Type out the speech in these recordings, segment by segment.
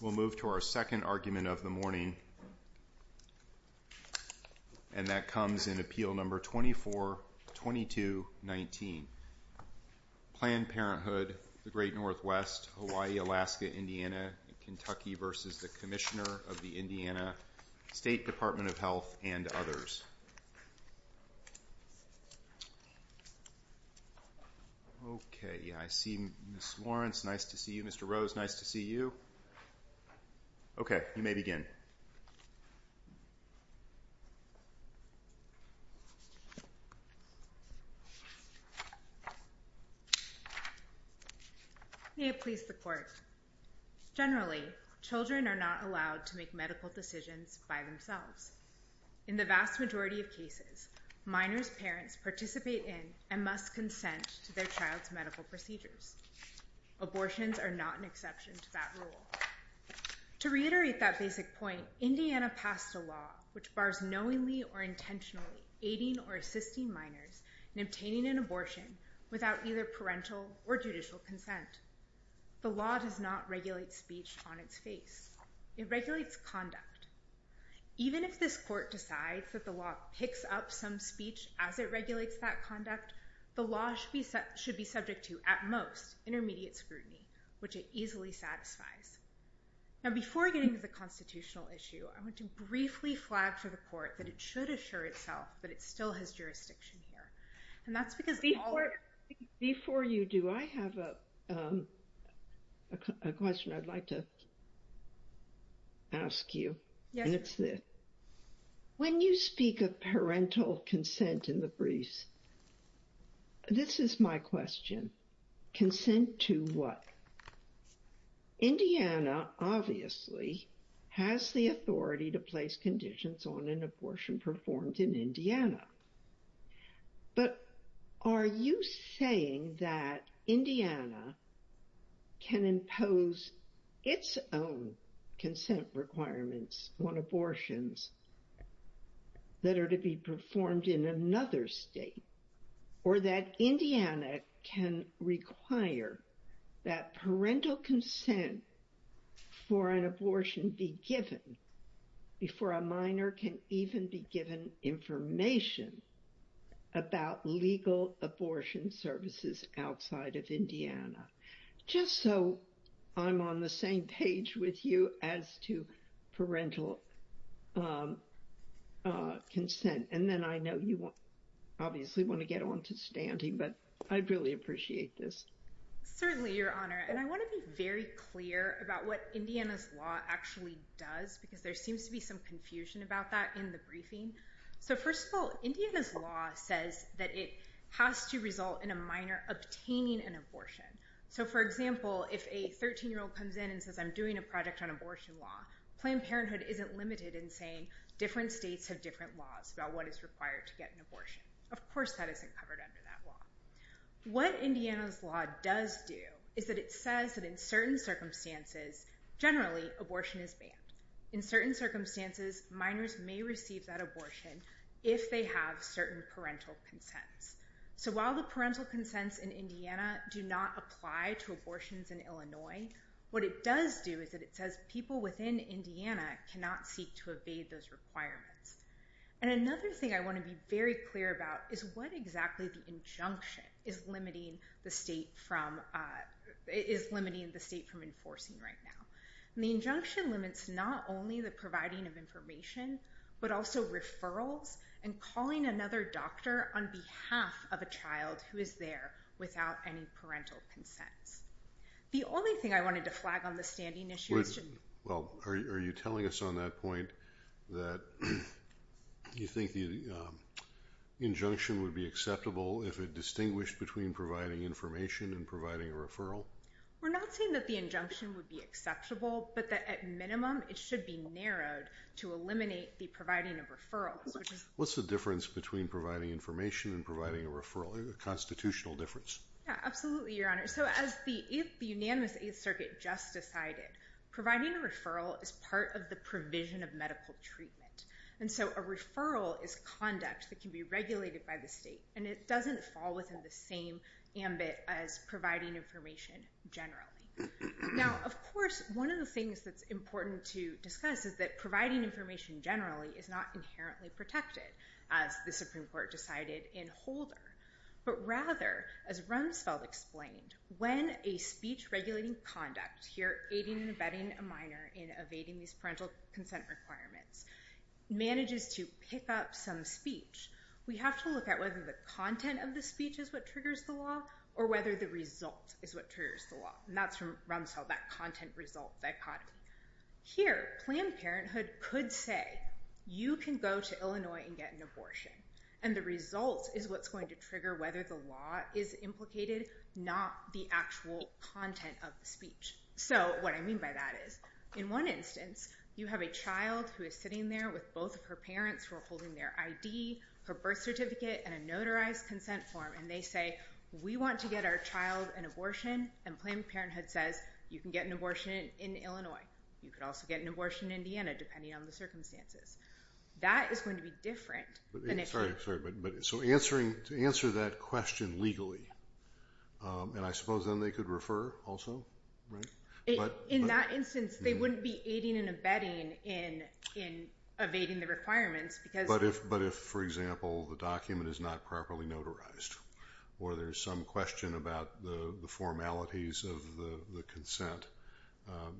We'll move to our second argument of the morning, and that comes in Appeal No. 24-22-19. Planned Parenthood, the Great Northwest, Hawaii, Alaska, Indiana, Kentucky v. Commissioner of the Indiana State Department of Health and others. Okay, I see Ms. Lawrence, nice to see you. Okay, you may begin. May it please the Court. Generally, children are not allowed to make medical decisions by themselves. In the vast majority of cases, minors' parents participate in and must consent to their child's medical procedures. Abortions are not an exception to that rule. To reiterate that basic point, Indiana passed a law which bars knowingly or intentionally aiding or assisting minors in obtaining an abortion without either parental or judicial consent. The law does not regulate speech on its face. It regulates conduct. Even if this Court decides that the law picks up some speech as it regulates that conduct, the law should be subject to, at most, intermediate scrutiny, which it easily satisfies. Now, before getting to the constitutional issue, I want to briefly flag to the Court that it should assure itself that it still has jurisdiction here. And that's because all of us— Before you do, I have a question I'd like to ask you, and it's this. When you speak of parental consent in the briefs, this is my question. Consent to what? Indiana, obviously, has the authority to place conditions on an abortion performed in Indiana. But are you saying that Indiana can impose its own consent requirements on abortions that are to be performed in another state? Or that Indiana can require that parental consent for an abortion be given before a minor can even be given information about legal abortion services outside of Indiana? Just so I'm on the same page with you as to parental consent. And then I know you obviously want to get on to standing, but I'd really appreciate this. Certainly, Your Honor. And I want to be very clear about what Indiana's law actually does, because there seems to be some confusion about that in the briefing. So first of all, Indiana's law says that it has to result in a minor obtaining an abortion. So for example, if a 13-year-old comes in and says, I'm doing a project on abortion law, Planned Parenthood isn't limited in saying different states have different laws about what is required to get an abortion. Of course, what Indiana's law does do is that it says that in certain circumstances, generally, abortion is banned. In certain circumstances, minors may receive that abortion if they have certain parental consents. So while the parental consents in Indiana do not apply to abortions in Illinois, what it does do is that it says people within Indiana cannot seek to evade those requirements. And another thing I want to be very clear about is what exactly the injunction is limiting the state from enforcing right now. The injunction limits not only the providing of information, but also referrals and calling another doctor on behalf of a child who is there without any parental consents. The only thing I wanted to flag on the standing issue Well, are you telling us on that point that you think the injunction would be acceptable if it distinguished between providing information and providing a referral? We're not saying that the injunction would be acceptable, but that at minimum, it should be narrowed to eliminate the providing of referrals. What's the difference between providing information and providing a referral? A constitutional difference? Yeah, absolutely, Your Honor. So as the unanimous Eighth Circuit just decided, providing a referral is part of the provision of medical treatment. And so a referral is conduct that can be regulated by the state, and it doesn't fall within the same ambit as providing information generally. Now, of course, one of the things that's important to discuss is that providing information generally is not inherently protected, as the Supreme Court decided in Holder. But rather, as Rumsfeld explained, when a speech regulating conduct, here aiding and abetting a minor in evading these parental obligations, whether the content of the speech is what triggers the law, or whether the result is what triggers the law. And that's from Rumsfeld, that content-result dichotomy. Here, Planned Parenthood could say, you can go to Illinois and get an abortion, and the result is what's going to trigger whether the law is implicated, not the actual content of the speech. So what I mean by that is, in one instance, you have a child who is sitting there with both of their ID, her birth certificate, and a notarized consent form, and they say, we want to get our child an abortion, and Planned Parenthood says, you can get an abortion in Illinois. You could also get an abortion in Indiana, depending on the circumstances. That is going to be different than if... Sorry, sorry, but so answering, to answer that question legally, and I suppose then they could refer also, right? In that instance, they wouldn't be aiding and abetting in evading the requirements, because... But if, for example, the document is not properly notarized, or there's some question about the formalities of the consent,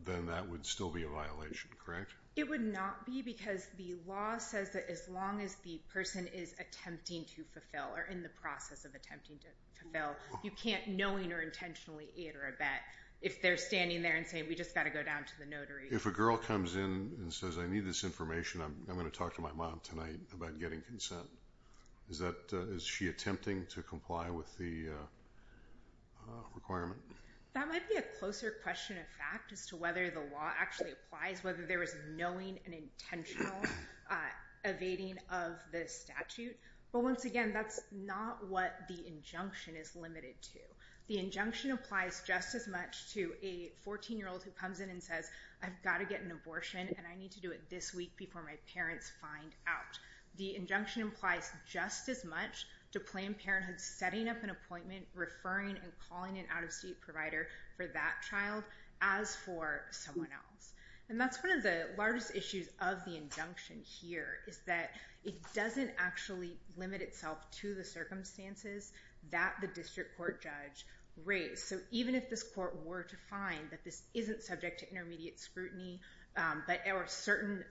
then that would still be a violation, correct? It would not be, because the law says that as long as the person is attempting to fulfill, or in the process of attempting to fulfill, you can't knowing or intentionally aid or abet if they're standing there and saying, we just got to go down to the notary. If a girl comes in and says, I need this information, I'm going to talk to my mom tonight about getting consent, is that, is she attempting to comply with the requirement? That might be a closer question of fact as to whether the law actually applies, whether there is knowing and intentional evading of the statute, but once again, that's not what the injunction is limited to. The injunction applies just as much to a 14-year-old who comes in and says, I've got to get an abortion, and I need to do it this week before my parents find out. The injunction implies just as much to Planned Parenthood setting up an appointment, referring and calling an out-of-state provider for that child as for someone else. And that's one of the largest issues of the injunction here, is that it doesn't actually limit itself to the circumstances that the district court judge raised. So even if this court were to find that this isn't subject to intermediate scrutiny, that there were certain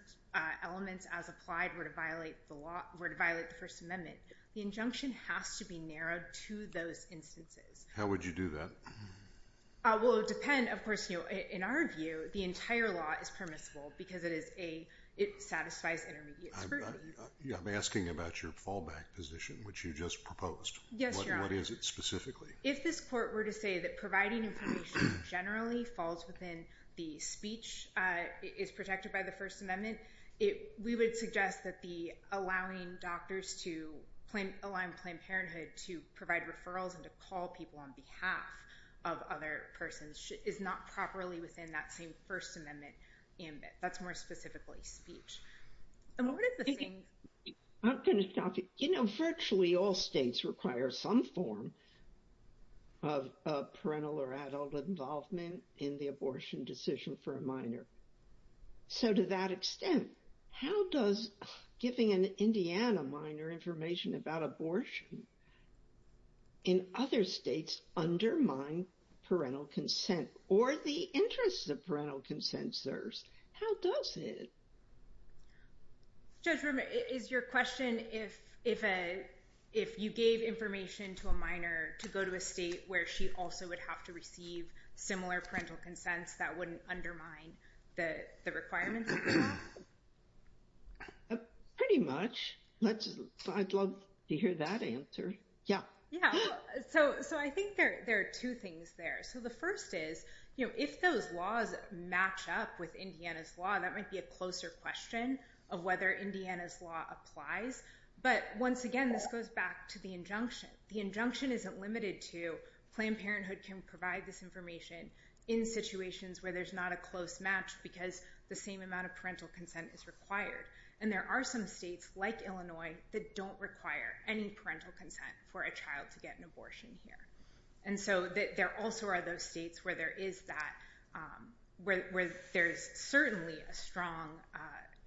elements as applied were to violate the law, were to violate the First Amendment, the injunction has to be narrowed to those instances. How would you do that? Well, it would depend. Of course, in our view, the entire law is permissible because it is a, it satisfies intermediate scrutiny. I'm asking about your fallback position, which you just proposed. Yes, Your Honor. What is it specifically? If this court were to say providing information generally falls within the speech is protected by the First Amendment, we would suggest that allowing doctors to, allowing Planned Parenthood to provide referrals and to call people on behalf of other persons is not properly within that same First Amendment ambit. That's more specifically speech. I'm going to stop you. Virtually all states require some form of parental or adult involvement in the abortion decision for a minor. So to that extent, how does giving an Indiana minor information about abortion in other states undermine parental consent or the interests of parental consent serves? How does it? Judge Rimmer, is your question, if you gave information to a minor to go to a state where she also would have to receive similar parental consents, that wouldn't undermine the requirements? Pretty much. I'd love to hear that answer. Yeah. Yeah. So I think there are two things there. So first is, if those laws match up with Indiana's law, that might be a closer question of whether Indiana's law applies. But once again, this goes back to the injunction. The injunction isn't limited to Planned Parenthood can provide this information in situations where there's not a close match because the same amount of parental consent is required. And there are some states like Illinois that don't require any parental consent for a child to get an abortion here. And so there also are those states where there is that, where there's certainly a strong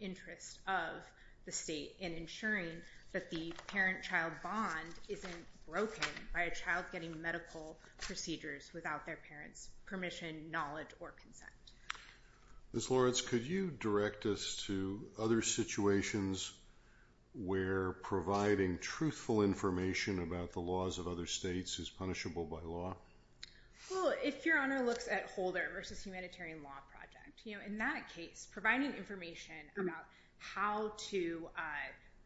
interest of the state in ensuring that the parent-child bond isn't broken by a child getting medical procedures without their parent's permission, knowledge, or consent. Ms. Lawrence, could you direct us to other situations where providing truthful information about the laws of other states is punishable by law? Well, if Your Honor looks at Holder versus Humanitarian Law Project, in that case, providing information about how to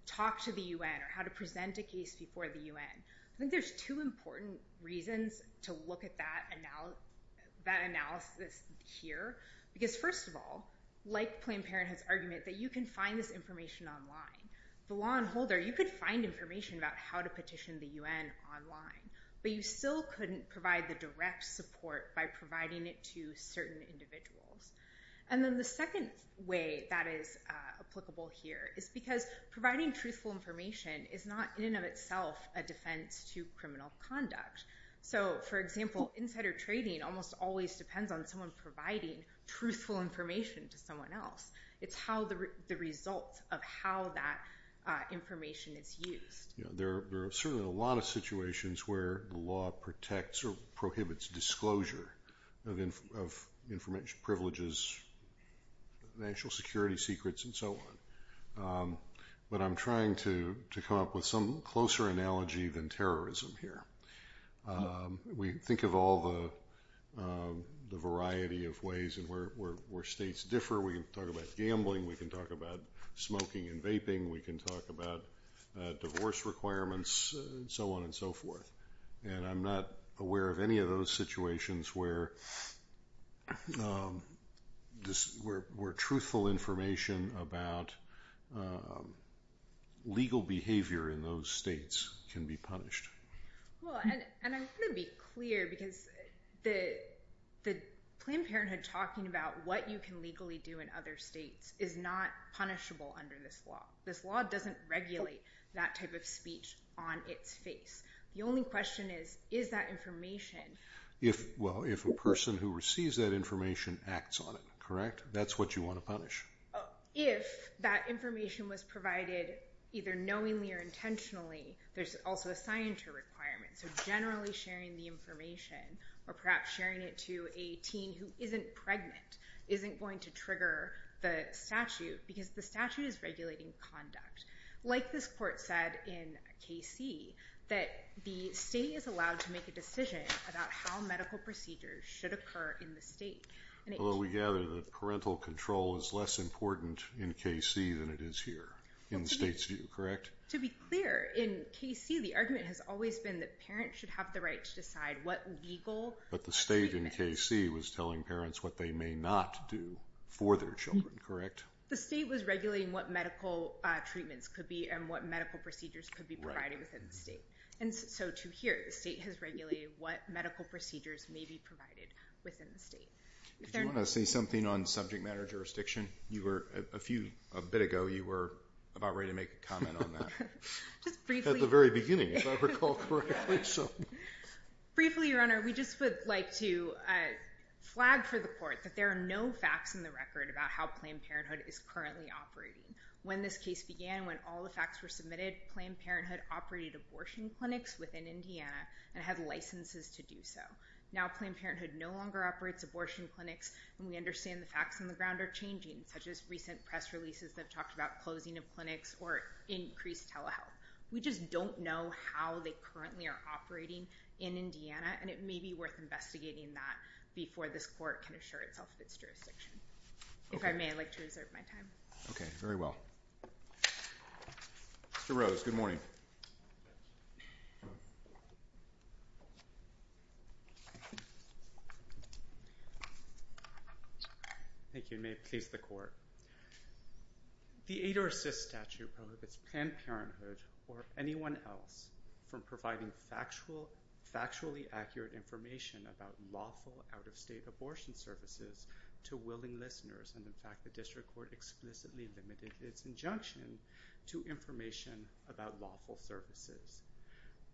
talk to the UN or how to present a case before the UN, I think there's two important reasons to look at that analysis here. Because first of all, like Planned Parenthood's argument that you can find this online. The law in Holder, you could find information about how to petition the UN online, but you still couldn't provide the direct support by providing it to certain individuals. And then the second way that is applicable here is because providing truthful information is not, in and of itself, a defense to criminal conduct. So, for example, insider trading almost always depends on someone providing truthful information to someone else. It's the result of how that information is used. There are certainly a lot of situations where the law protects or prohibits disclosure of information, privileges, national security secrets, and so on. But I'm trying to come up with some closer analogy than terrorism here. We think of all the variety of ways where states differ. We can talk about gambling, we can talk about smoking and vaping, we can talk about divorce requirements, and so on and so forth. And I'm not aware of any of those situations where truthful information about legal behavior in those states can be punished. Well, and I want to be clear because the Planned Parenthood talking about what you can legally do in other states is not punishable under this law. This law doesn't regulate that type of speech on its face. The only question is, is that information... Well, if a person who receives that information acts on it, correct? That's what you want to punish. If that information was provided either knowingly or intentionally, there's also a sign to a requirement. So generally sharing the information, or perhaps sharing it to a teen who isn't pregnant, isn't going to trigger the statute because the statute is regulating conduct. Like this court said in KC, that the state is allowed to make a decision about how medical procedures should occur in the state. Although we gather that parental control is less important in KC than it is here, in the state's view, correct? To be clear, in KC the argument has always been that parents should have the right to decide what legal treatment... But the state in KC was telling parents what they may not do for their children, correct? The state was regulating what medical treatments could be and what medical procedures could be provided within the state. And so to here, the state has regulated what medical procedures may be provided within the state. Did you want to say something on subject matter jurisdiction? A bit ago, you were about ready to make a comment on that. At the very beginning, if I recall correctly. Briefly, Your Honor, we just would like to flag for the court that there are no facts in the record about how Planned Parenthood is currently operating. When this case began, when all the facts were submitted, Planned Parenthood operated abortion clinics within Indiana and had licenses to do so. Now Planned Parenthood no longer operates abortion clinics and we understand the facts on the ground are changing, such as recent press releases that have talked about closing of clinics or increased telehealth. We just don't know how they currently are operating in Indiana and it may be worth investigating that before this court can assure itself of its jurisdiction. If I may, I'd like to reserve my time. Okay, very well. Mr. Rose, good morning. Thank you, and may it please the court. The aid or assist statute prohibits Planned Parenthood or anyone else from providing factually accurate information about lawful out-of-state abortion services to willing listeners, and in fact the district court explicitly limited its injunction to information about lawful services.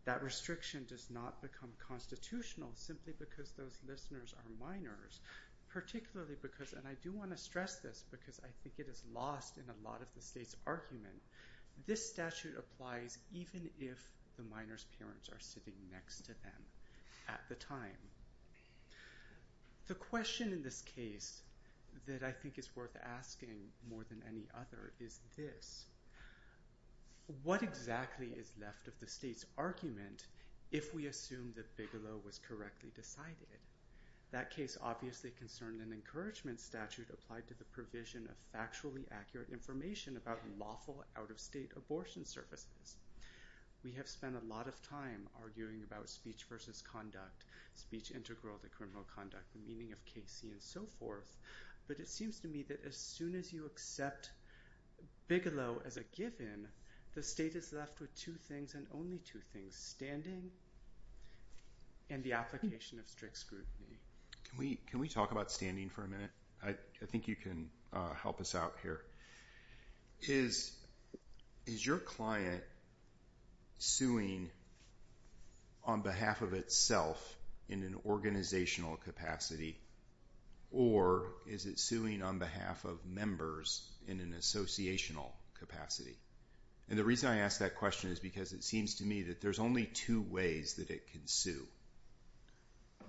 That restriction does not become constitutional simply because those listeners are minors, particularly because, and I do want to stress this because I think it is lost in a lot of the state's argument, this statute applies even if the minor's parents are sitting next to them at the time. The question in this case that I think is worth asking more than any other is this, what exactly is left of the state's argument if we assume that Bigelow was correctly decided? That case obviously concerned an encouragement statute applied to the provision of factually accurate information about lawful out-of-state abortion services. We have spent a lot of time arguing about speech versus conduct, speech integral to criminal conduct, the meaning of KC and so forth, but it seems to me that as soon as you accept Bigelow as a given, the state is left with two things and only two things, standing and the application of strict scrutiny. Can we talk about standing for a minute? I think you can help us out here. Is your client suing on behalf of itself in an organizational capacity or is it suing on behalf of members in an associational capacity? And the reason I ask that question is because it seems to me that there's only two ways that it can sue.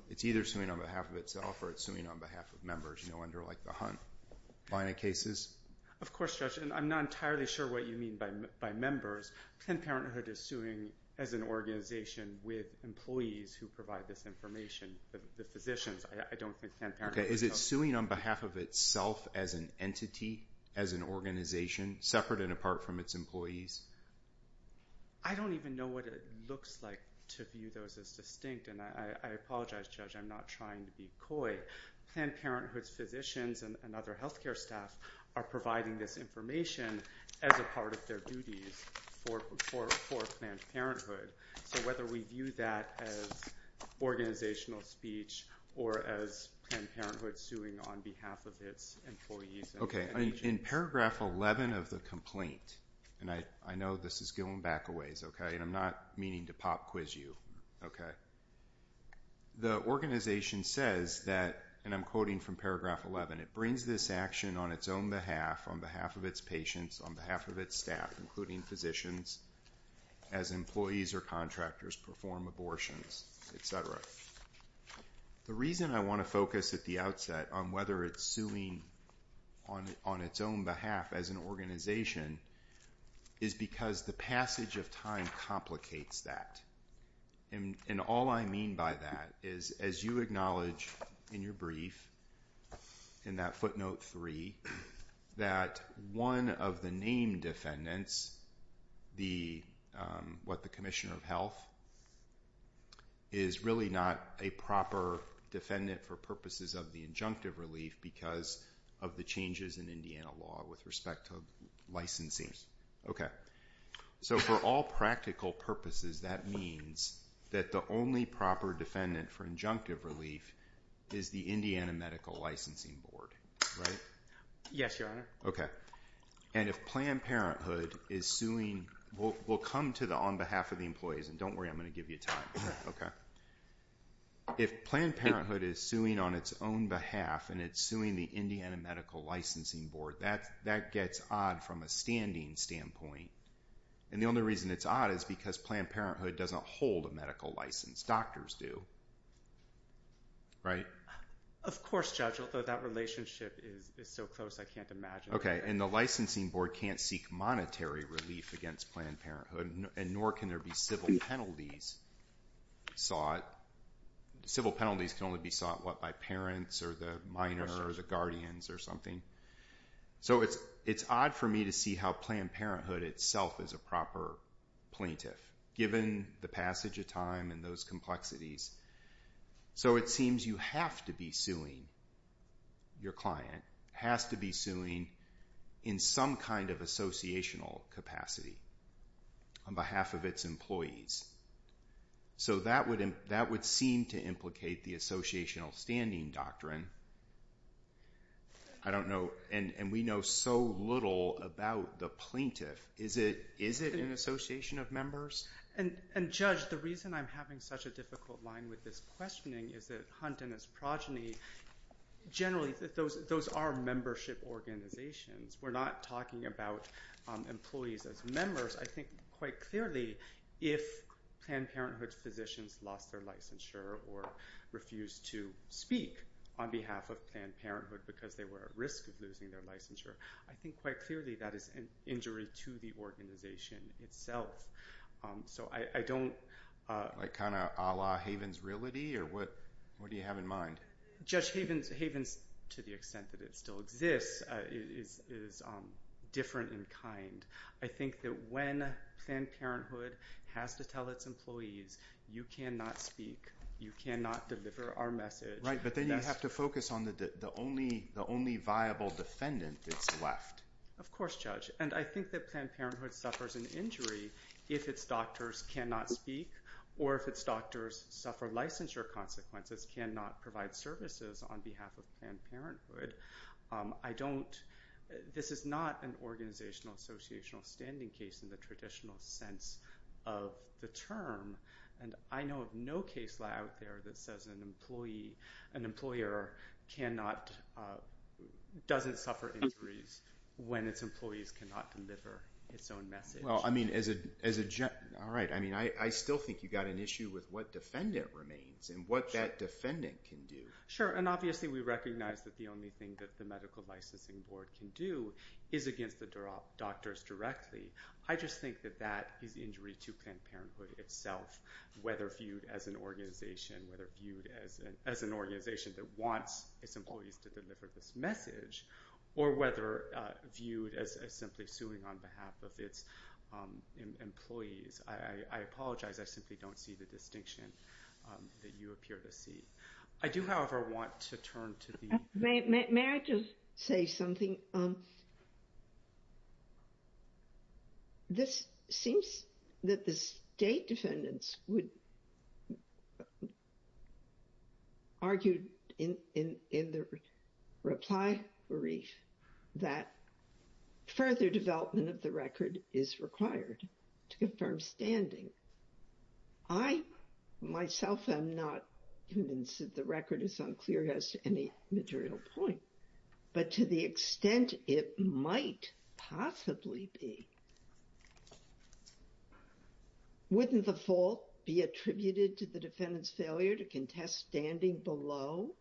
It's either suing on behalf of itself or it's suing on behalf of members, you know, under like the Hunt line of cases. Of course, Judge, and I'm not entirely sure what you mean by members. Planned Parenthood is suing as an organization with employees who provide this information, the physicians. I don't think Planned Parenthood... Okay, is it suing on behalf of itself as an entity, as an organization, separate and apart from its employees? I don't even know what it looks like to view those as distinct, and I apologize, Judge, I'm not trying to be coy. Planned Parenthood's physicians and other health care staff are providing this information as a part of their duties for Planned Parenthood. So whether we view that as organizational speech or as Planned Parenthood suing on behalf of its employees... Okay, in paragraph 11 of the complaint, and I know this is going back a ways, okay, and I'm not meaning to pop quiz you, okay, the organization says that, and I'm quoting from paragraph 11, it brings this action on its own behalf, on behalf of its patients, on behalf of its staff, including physicians, as employees or contractors perform abortions, et cetera. The reason I want to focus at the outset on whether it's suing on its own behalf as an organization is because the passage of time complicates that. And all I mean by that is, as you acknowledge in your brief, in that footnote three, that one of the named defendants, what, the Commissioner of Health, is really not a proper defendant for purposes of the injunctive relief because of the changes in Indiana law with respect to licensing. Okay, so for all practical purposes, that means that the only proper defendant for injunctive relief is the Indiana Medical Licensing Board, right? Yes, Your Honor. Okay, and if Planned Parenthood is suing, we'll come to the on behalf of the employees, and don't worry, I'm going to give you time, okay? If Planned Parenthood is suing on its own behalf and it's suing the Indiana Medical Licensing Board, that gets odd from a standing standpoint. And the only reason it's odd is because Planned Parenthood doesn't hold a medical license, doctors do, right? Of course, Judge, that relationship is so close, I can't imagine. Okay, and the licensing board can't seek monetary relief against Planned Parenthood, and nor can there be civil penalties sought. Civil penalties can only be sought, what, by parents or the minor or the guardians or something. So it's odd for me to see how Planned Parenthood itself is a proper plaintiff, given the passage of time and those complexities. So it seems you have to be suing your client, has to be suing in some kind of associational capacity on behalf of its employees. So that would seem to implicate the associational standing doctrine. I don't know, and we know so little about the plaintiff. Is it an association of members? And Judge, the reason I'm having such a difficult line with this questioning is that Hunt and his progeny, generally, those are membership organizations. We're not talking about employees as members. I think quite clearly, if Planned Parenthood's physicians lost their licensure or refused to speak on behalf of Planned Parenthood because they were at risk of losing their licensure, I think quite clearly that is an injury to the organization itself. So I don't... Like kind of a la Havens Reality, or what do you have in mind? Judge Havens, to the extent that it still exists, is different in kind. I think that when Planned Parenthood has to tell its employees, you cannot speak, you cannot deliver our message... But then you have to focus on the only viable defendant that's left. Of course, Judge. And I think that Planned Parenthood suffers an injury if its doctors cannot speak, or if its doctors suffer licensure consequences, cannot provide services on behalf of Planned Parenthood. This is not an organizational associational standing case in the traditional sense of the term. And I know of no case law out there that says an employer cannot... Doesn't suffer injuries when its employees cannot deliver its own message. Well, I mean, as a... All right. I mean, I still think you got an issue with what defendant remains and what that defendant can do. Sure. And obviously, we recognize that the only thing that the Medical Licensing Board can do is against the doctors directly. I just think that that is injury to Planned Parenthood itself, whether viewed as an organization, whether viewed as an organization that wants its employees to deliver this message, or whether viewed as simply suing on behalf of its employees. I apologize. I simply don't see the distinction that you appear to see. I do, however, want to turn to the... May I just say something? This seems that the state defendants would argue in the reply brief that further development of the record is required to confirm standing. I myself am not convinced that the record is unclear as to any material point, but to the extent it might possibly be, wouldn't the fault be attributed to the defendant's failure to contest standing below?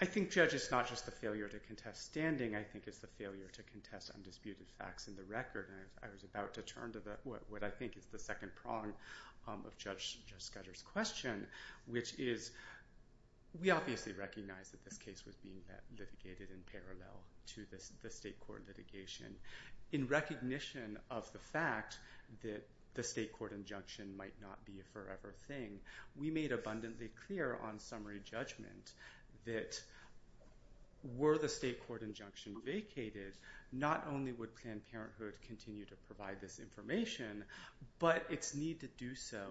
I think, Judge, it's not just the failure to contest standing. I think it's the failure to contest undisputed facts in the record. I was about to turn to what I think is the second prong of Judge Scudder's question, which is, we obviously recognize that this case was being litigated in parallel to the state court litigation. In recognition of the fact that the state court injunction might not be a forever thing, we made abundantly clear on summary judgment that, were the state court injunction vacated, not only would Planned Parenthood continue to provide this information, but its need to do so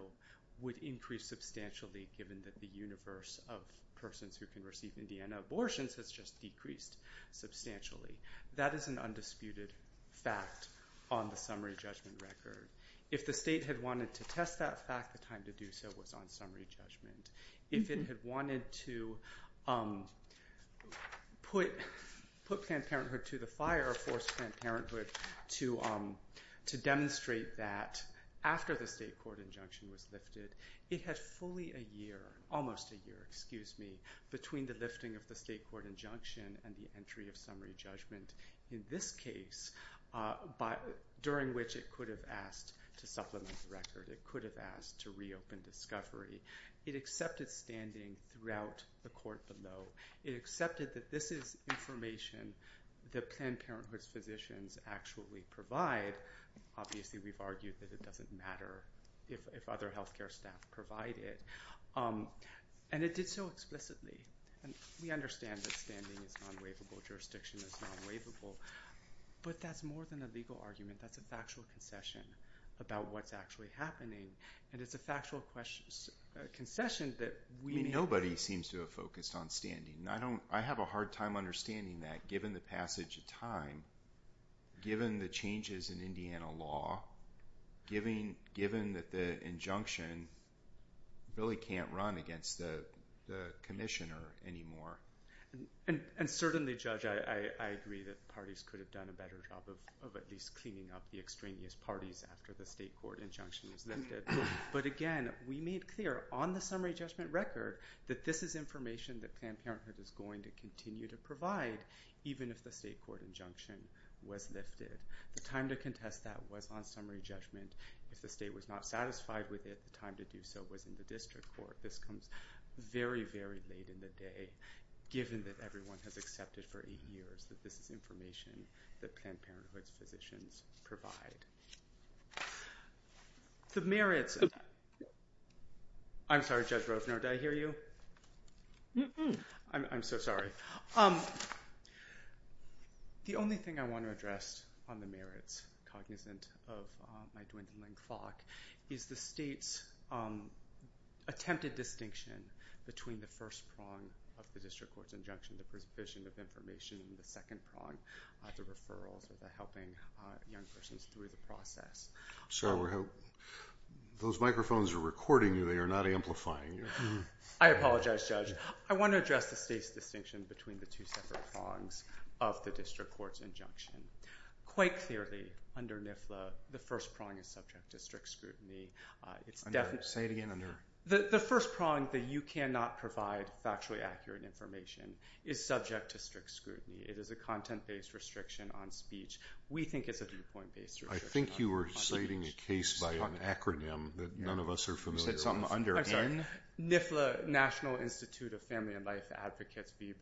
would increase substantially, given that the universe of persons who can receive Indiana abortions has just decreased substantially. That is an undisputed fact on the summary judgment record. If the state had wanted to test that fact, the time to do so was on summary judgment. If it had wanted to put Planned Parenthood to the fire or force Planned Parenthood to demonstrate that, after the state court injunction was lifted, it had fully a year, almost a year, excuse me, between the lifting of the state court injunction and the entry of summary judgment in this case, during which it could have asked to supplement the record. It could have asked to reopen discovery. It accepted standing throughout the court below. It accepted that this is information that Planned Parenthood's physicians actually provide. Obviously, we've argued that it doesn't matter if other health care staff provide it. And it did so explicitly. And we understand that standing is non-waivable. Jurisdiction is non-waivable. But that's more than a legal argument. That's a factual concession about what's actually happening. And it's a factual concession that we need. Nobody seems to have focused on standing. I have a hard time understanding that, given the passage of time, given the changes in Indiana law, given that the injunction really can't run against the commissioner anymore. And certainly, Judge, I agree that parties could have done a better job of at least cleaning up the extraneous parties after the state court injunction was lifted. But again, we made clear on the summary judgment record that this is information that Planned Parenthood is going to continue to provide, even if the state court injunction was lifted. The time to contest that was on summary judgment. If the state was not satisfied with it, the time to do so was in the district court. This comes very, very late in the day, given that everyone has accepted for eight years that this is information that Planned Parenthood's physicians provide. The merits of that. I'm sorry, Judge Rovner, did I hear you? I'm so sorry. The only thing I want to address on the merits, cognizant of my dwindling clock, is the state's attempted distinction between the first prong of the district court's injunction, the provision of information, and the second prong, the referrals or the helping young persons through the process. Those microphones are recording you. They are not amplifying you. I apologize, Judge. I want to address the state's distinction between the two separate prongs of the district court's injunction. Quite clearly, under NIFLA, the first prong is subject to strict scrutiny. Say it again. The first prong that you cannot provide factually accurate information is subject to strict scrutiny. It is a content-based restriction on speech. We think it's a viewpoint-based restriction on speech. I think you were stating a case by an acronym that none of us are familiar with. You said something under N. NIFLA, National Institute of Family and Life Advocates v.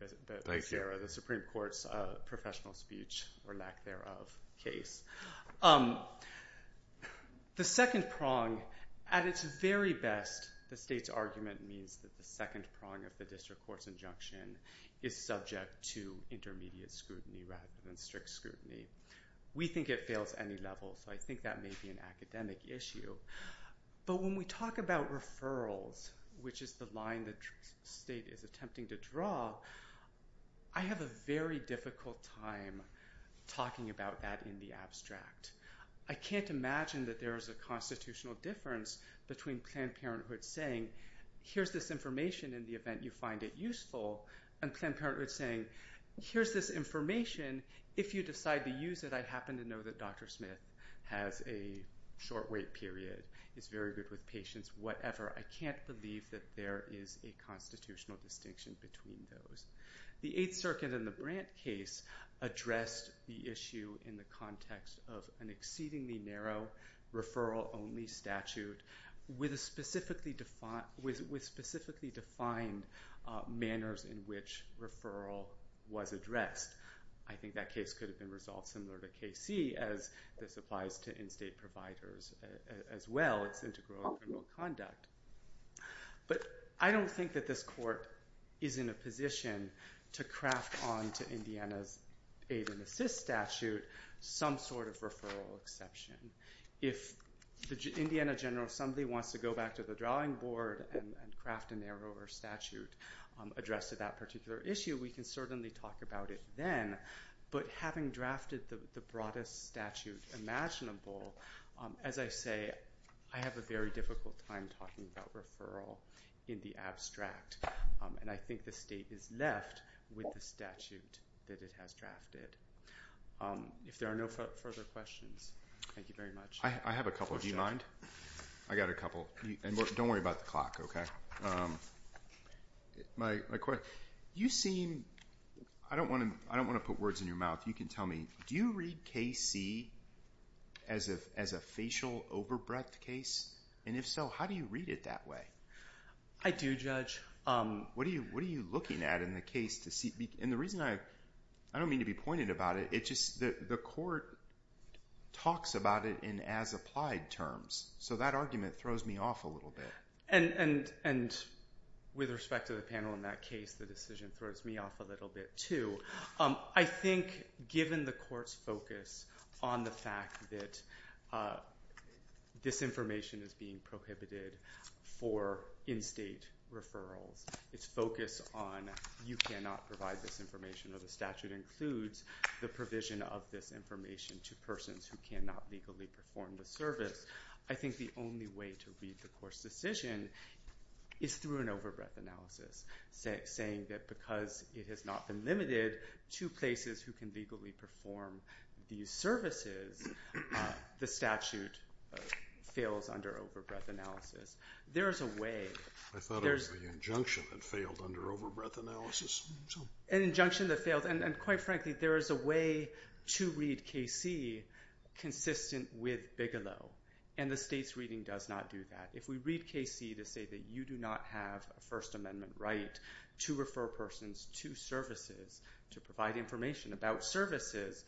Becerra, the Supreme Court's professional speech, or lack thereof, case. The second prong, at its very best, the state's argument means that the second prong of the district court's injunction is subject to intermediate scrutiny rather than strict scrutiny. We think it fails any level, so I think that may be an academic issue. But when we talk about referrals, which is the line the state is attempting to draw, I have a very difficult time talking about that in the abstract. I can't imagine that there is a constitutional difference between Planned Parenthood saying, here's this information in the event you find it useful, and Planned Parenthood saying, here's this information. If you decide to use it, I happen to know that Dr. Smith has a short wait period, is very good with patients, whatever. I can't believe that there is a constitutional distinction between those. The Eighth Circuit in the Brandt case addressed the issue in the context of an exceedingly narrow referral-only statute with specifically defined manners in which referral was addressed. I think that case could have been resolved similar to KC as this applies to in-state providers as well. It's integral to criminal conduct. But I don't think that this court is in a position to craft onto Indiana's aid and assist statute some sort of referral exception. If the Indiana General Assembly wants to go back to the drawing board and craft a narrower statute addressed to that particular issue, we can certainly talk about it then. But having drafted the broadest statute imaginable, as I say, I have a very difficult time talking about referral in the abstract. And I think the state is left with the statute that it has drafted. If there are no further questions, thank you very much. I have a couple. Do you mind? I got a couple. And don't worry about the clock, okay? My question, you seem, I don't want to put words in your mouth. You can tell me, do you read KC as a facial over-breadth case? And if so, how do you read it that way? I do, Judge. What are you looking at in the case to see? And the reason I, I don't mean to be pointed about it, it's just the court talks about it in as-applied terms. So that argument throws me off a little bit. And with respect to the panel in that case, the decision throws me off a little bit too. I think given the court's focus on the fact that this information is being prohibited for in-state referrals, its focus on you cannot provide this information or the statute includes the provision of this information to persons who cannot legally perform the service. I think the only way to read the court's decision is through an over-breadth analysis, saying that because it has not been limited to places who can legally perform these services, the statute fails under over-breadth analysis. There is a way. I thought it was the injunction that failed under over-breadth analysis. An injunction that failed. And quite frankly, there is a way to read KC consistent with Bigelow. And the state's reading does not do that. If we read KC to say that you do not have a First Amendment right to refer persons to services to provide information about services,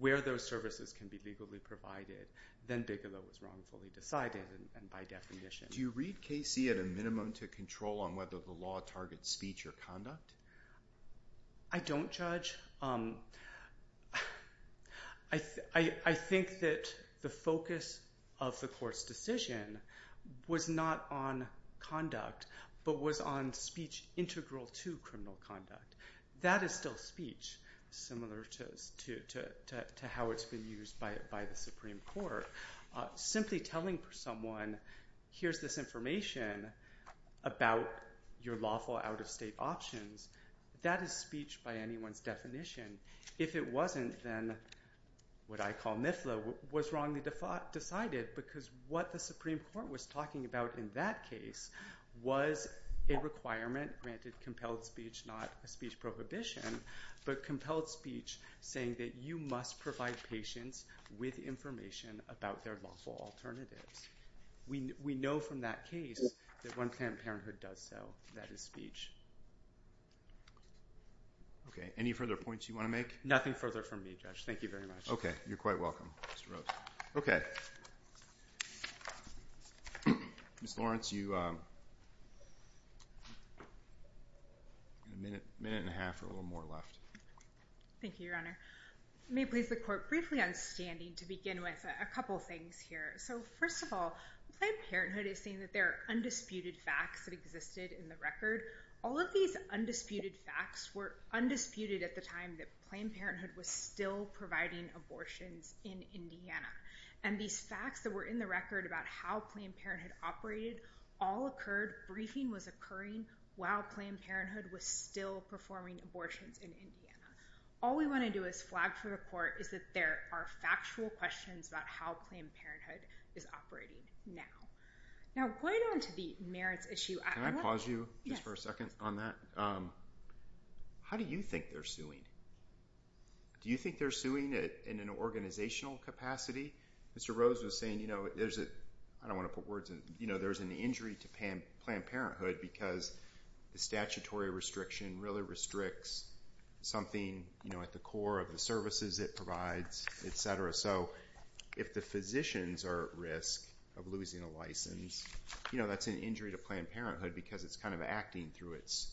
where those services can be legally provided, then Bigelow was wrongfully decided and by definition. Do you read KC at a minimum to control on whether the law targets speech or conduct? I don't, Judge. I think that the focus of the court's decision was not on conduct, but was on speech integral to criminal conduct. That is still speech, similar to how it's been used by the Supreme Court. Simply telling someone, here's this information about your lawful out-of-state options, that is speech by anyone's definition. If it wasn't, then what I call NIFLA was wrongly decided because what the Supreme Court was talking about in that case was a requirement, granted compelled speech, not a speech prohibition, but compelled speech saying that you must provide patients with information about their lawful alternatives. We know from that case that One Planned Parenthood does so. That is speech. Okay. Any further points you want to make? Nothing further from me, Judge. Thank you very much. Okay. You're quite welcome, Mr. Rhodes. Okay. Ms. Lawrence, you have a minute and a half or a little more left. Thank you, Your Honor. I may please the court briefly on standing to begin with a couple things here. So first of all, One Planned Parenthood is saying that there are undisputed facts that existed in the record. All of these undisputed facts were undisputed at the time that Planned Parenthood was still providing abortions in Indiana. And these facts that were in the record about how Planned Parenthood operated all occurred, briefing was occurring while Planned Parenthood was still performing abortions in Indiana. All we want to do is flag for the court is that there are factual questions about how Planned Parenthood is operating now. Now, going on to the merits issue- Can I pause you just for a second on that? How do you think they're suing? Do you think they're suing in an organizational capacity? Mr. Rhodes was saying, you know, there's an injury to Planned Parenthood because the statutory restriction really restricts something, you know, at the core of the services it provides, et cetera. So if the physicians are at risk of losing a license, you know, that's an injury to Planned Parenthood because it's kind of acting through its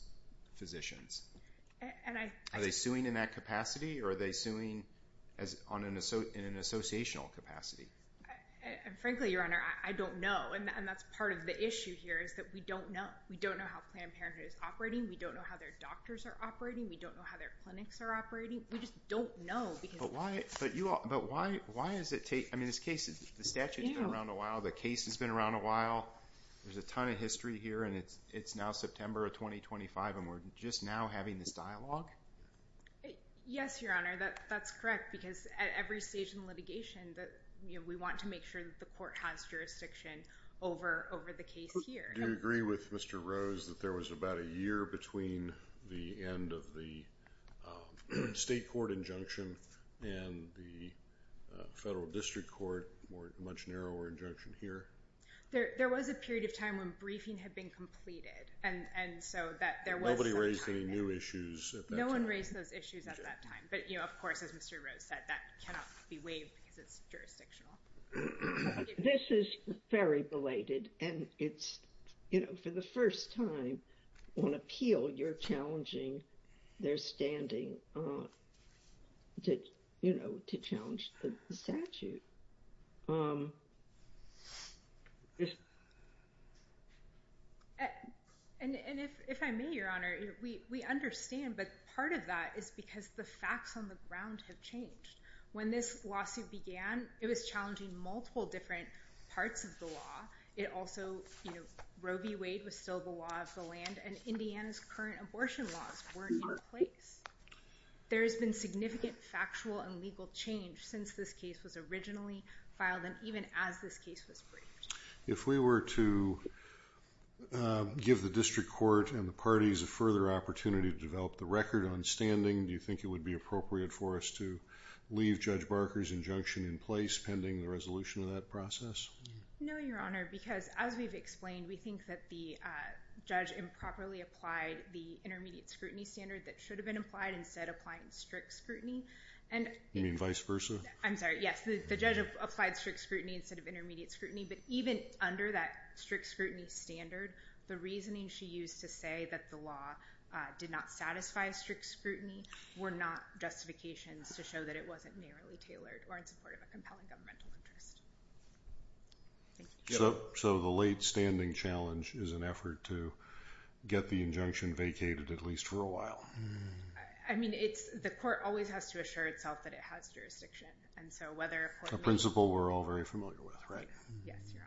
physicians. Are they suing in that capacity or are they suing in an associational capacity? Frankly, Your Honor, I don't know. And that's part of the issue here is that we don't know. We don't know how Planned Parenthood is operating. We don't know how their doctors are operating. We don't know how their clinics are operating. We just don't know because- But why does it take- I mean, this case, the statute's been around a while. The case has been around a while. There's a ton of history here. And it's now September of 2025 and we're just now having this dialogue? Yes, Your Honor, that's correct because at every stage in litigation that, you know, we want to make sure that the court has jurisdiction over the case here. Do you agree with Mr. Rhodes that there was about a year between the end of the state injunction and the federal district court, a much narrower injunction here? There was a period of time when briefing had been completed and so that there was- Nobody raised any new issues at that time? No one raised those issues at that time. But, you know, of course, as Mr. Rhodes said, that cannot be waived because it's jurisdictional. This is very belated and it's, you know, for the first time on appeal, you're challenging their standing to, you know, to challenge the statute. And if I may, Your Honor, we understand, but part of that is because the facts on the ground have changed. When this lawsuit began, it was challenging multiple different parts of the law. It also, you know, Roe v. Wade was still the law of the land and Indiana's current abortion laws weren't in place. There has been significant factual and legal change since this case was originally filed and even as this case was briefed. If we were to give the district court and the parties a further opportunity to develop the record on standing, do you think it would be appropriate for us to leave Judge Barker's injunction in place pending the resolution of that process? No, Your Honor, because as we've explained, we think that the judge improperly applied the intermediate scrutiny standard that should have been applied instead of applying strict scrutiny. You mean vice versa? I'm sorry, yes. The judge applied strict scrutiny instead of intermediate scrutiny, but even under that strict scrutiny standard, the reasoning she used to say that the law did not satisfy strict scrutiny were not justifications to show that it wasn't narrowly tailored or in support of a compelling governmental interest. So the late standing challenge is an effort to get the injunction vacated, at least for a while? I mean, the court always has to assure itself that it has jurisdiction, and so whether a court makes— A principle we're all very familiar with, right? Yes, Your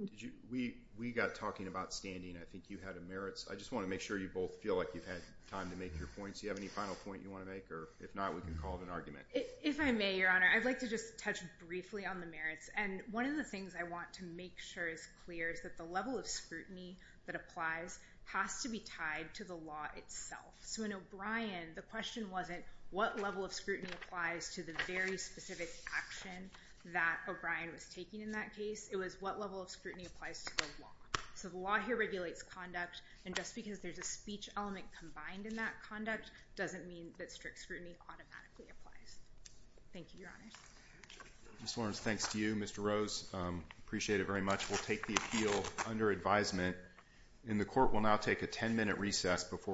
Honor. We got talking about standing. I think you had a merits. I just want to make sure you both feel like you've had time to make your points. Do you have any final point you want to make? Or if not, we can call it an argument. If I may, Your Honor, I'd like to just touch briefly on the merits. One of the things I want to make sure is clear is that the level of scrutiny that applies has to be tied to the law itself. So in O'Brien, the question wasn't what level of scrutiny applies to the very specific action that O'Brien was taking in that case. It was what level of scrutiny applies to the law. So the law here regulates conduct, and just because there's a speech element combined in that conduct doesn't mean that strict scrutiny automatically applies. Thank you, Your Honor. Ms. Lawrence, thanks to you. Mr. Rose, appreciate it very much. We'll take the appeal under advisement. And the court will now take a 10-minute recess before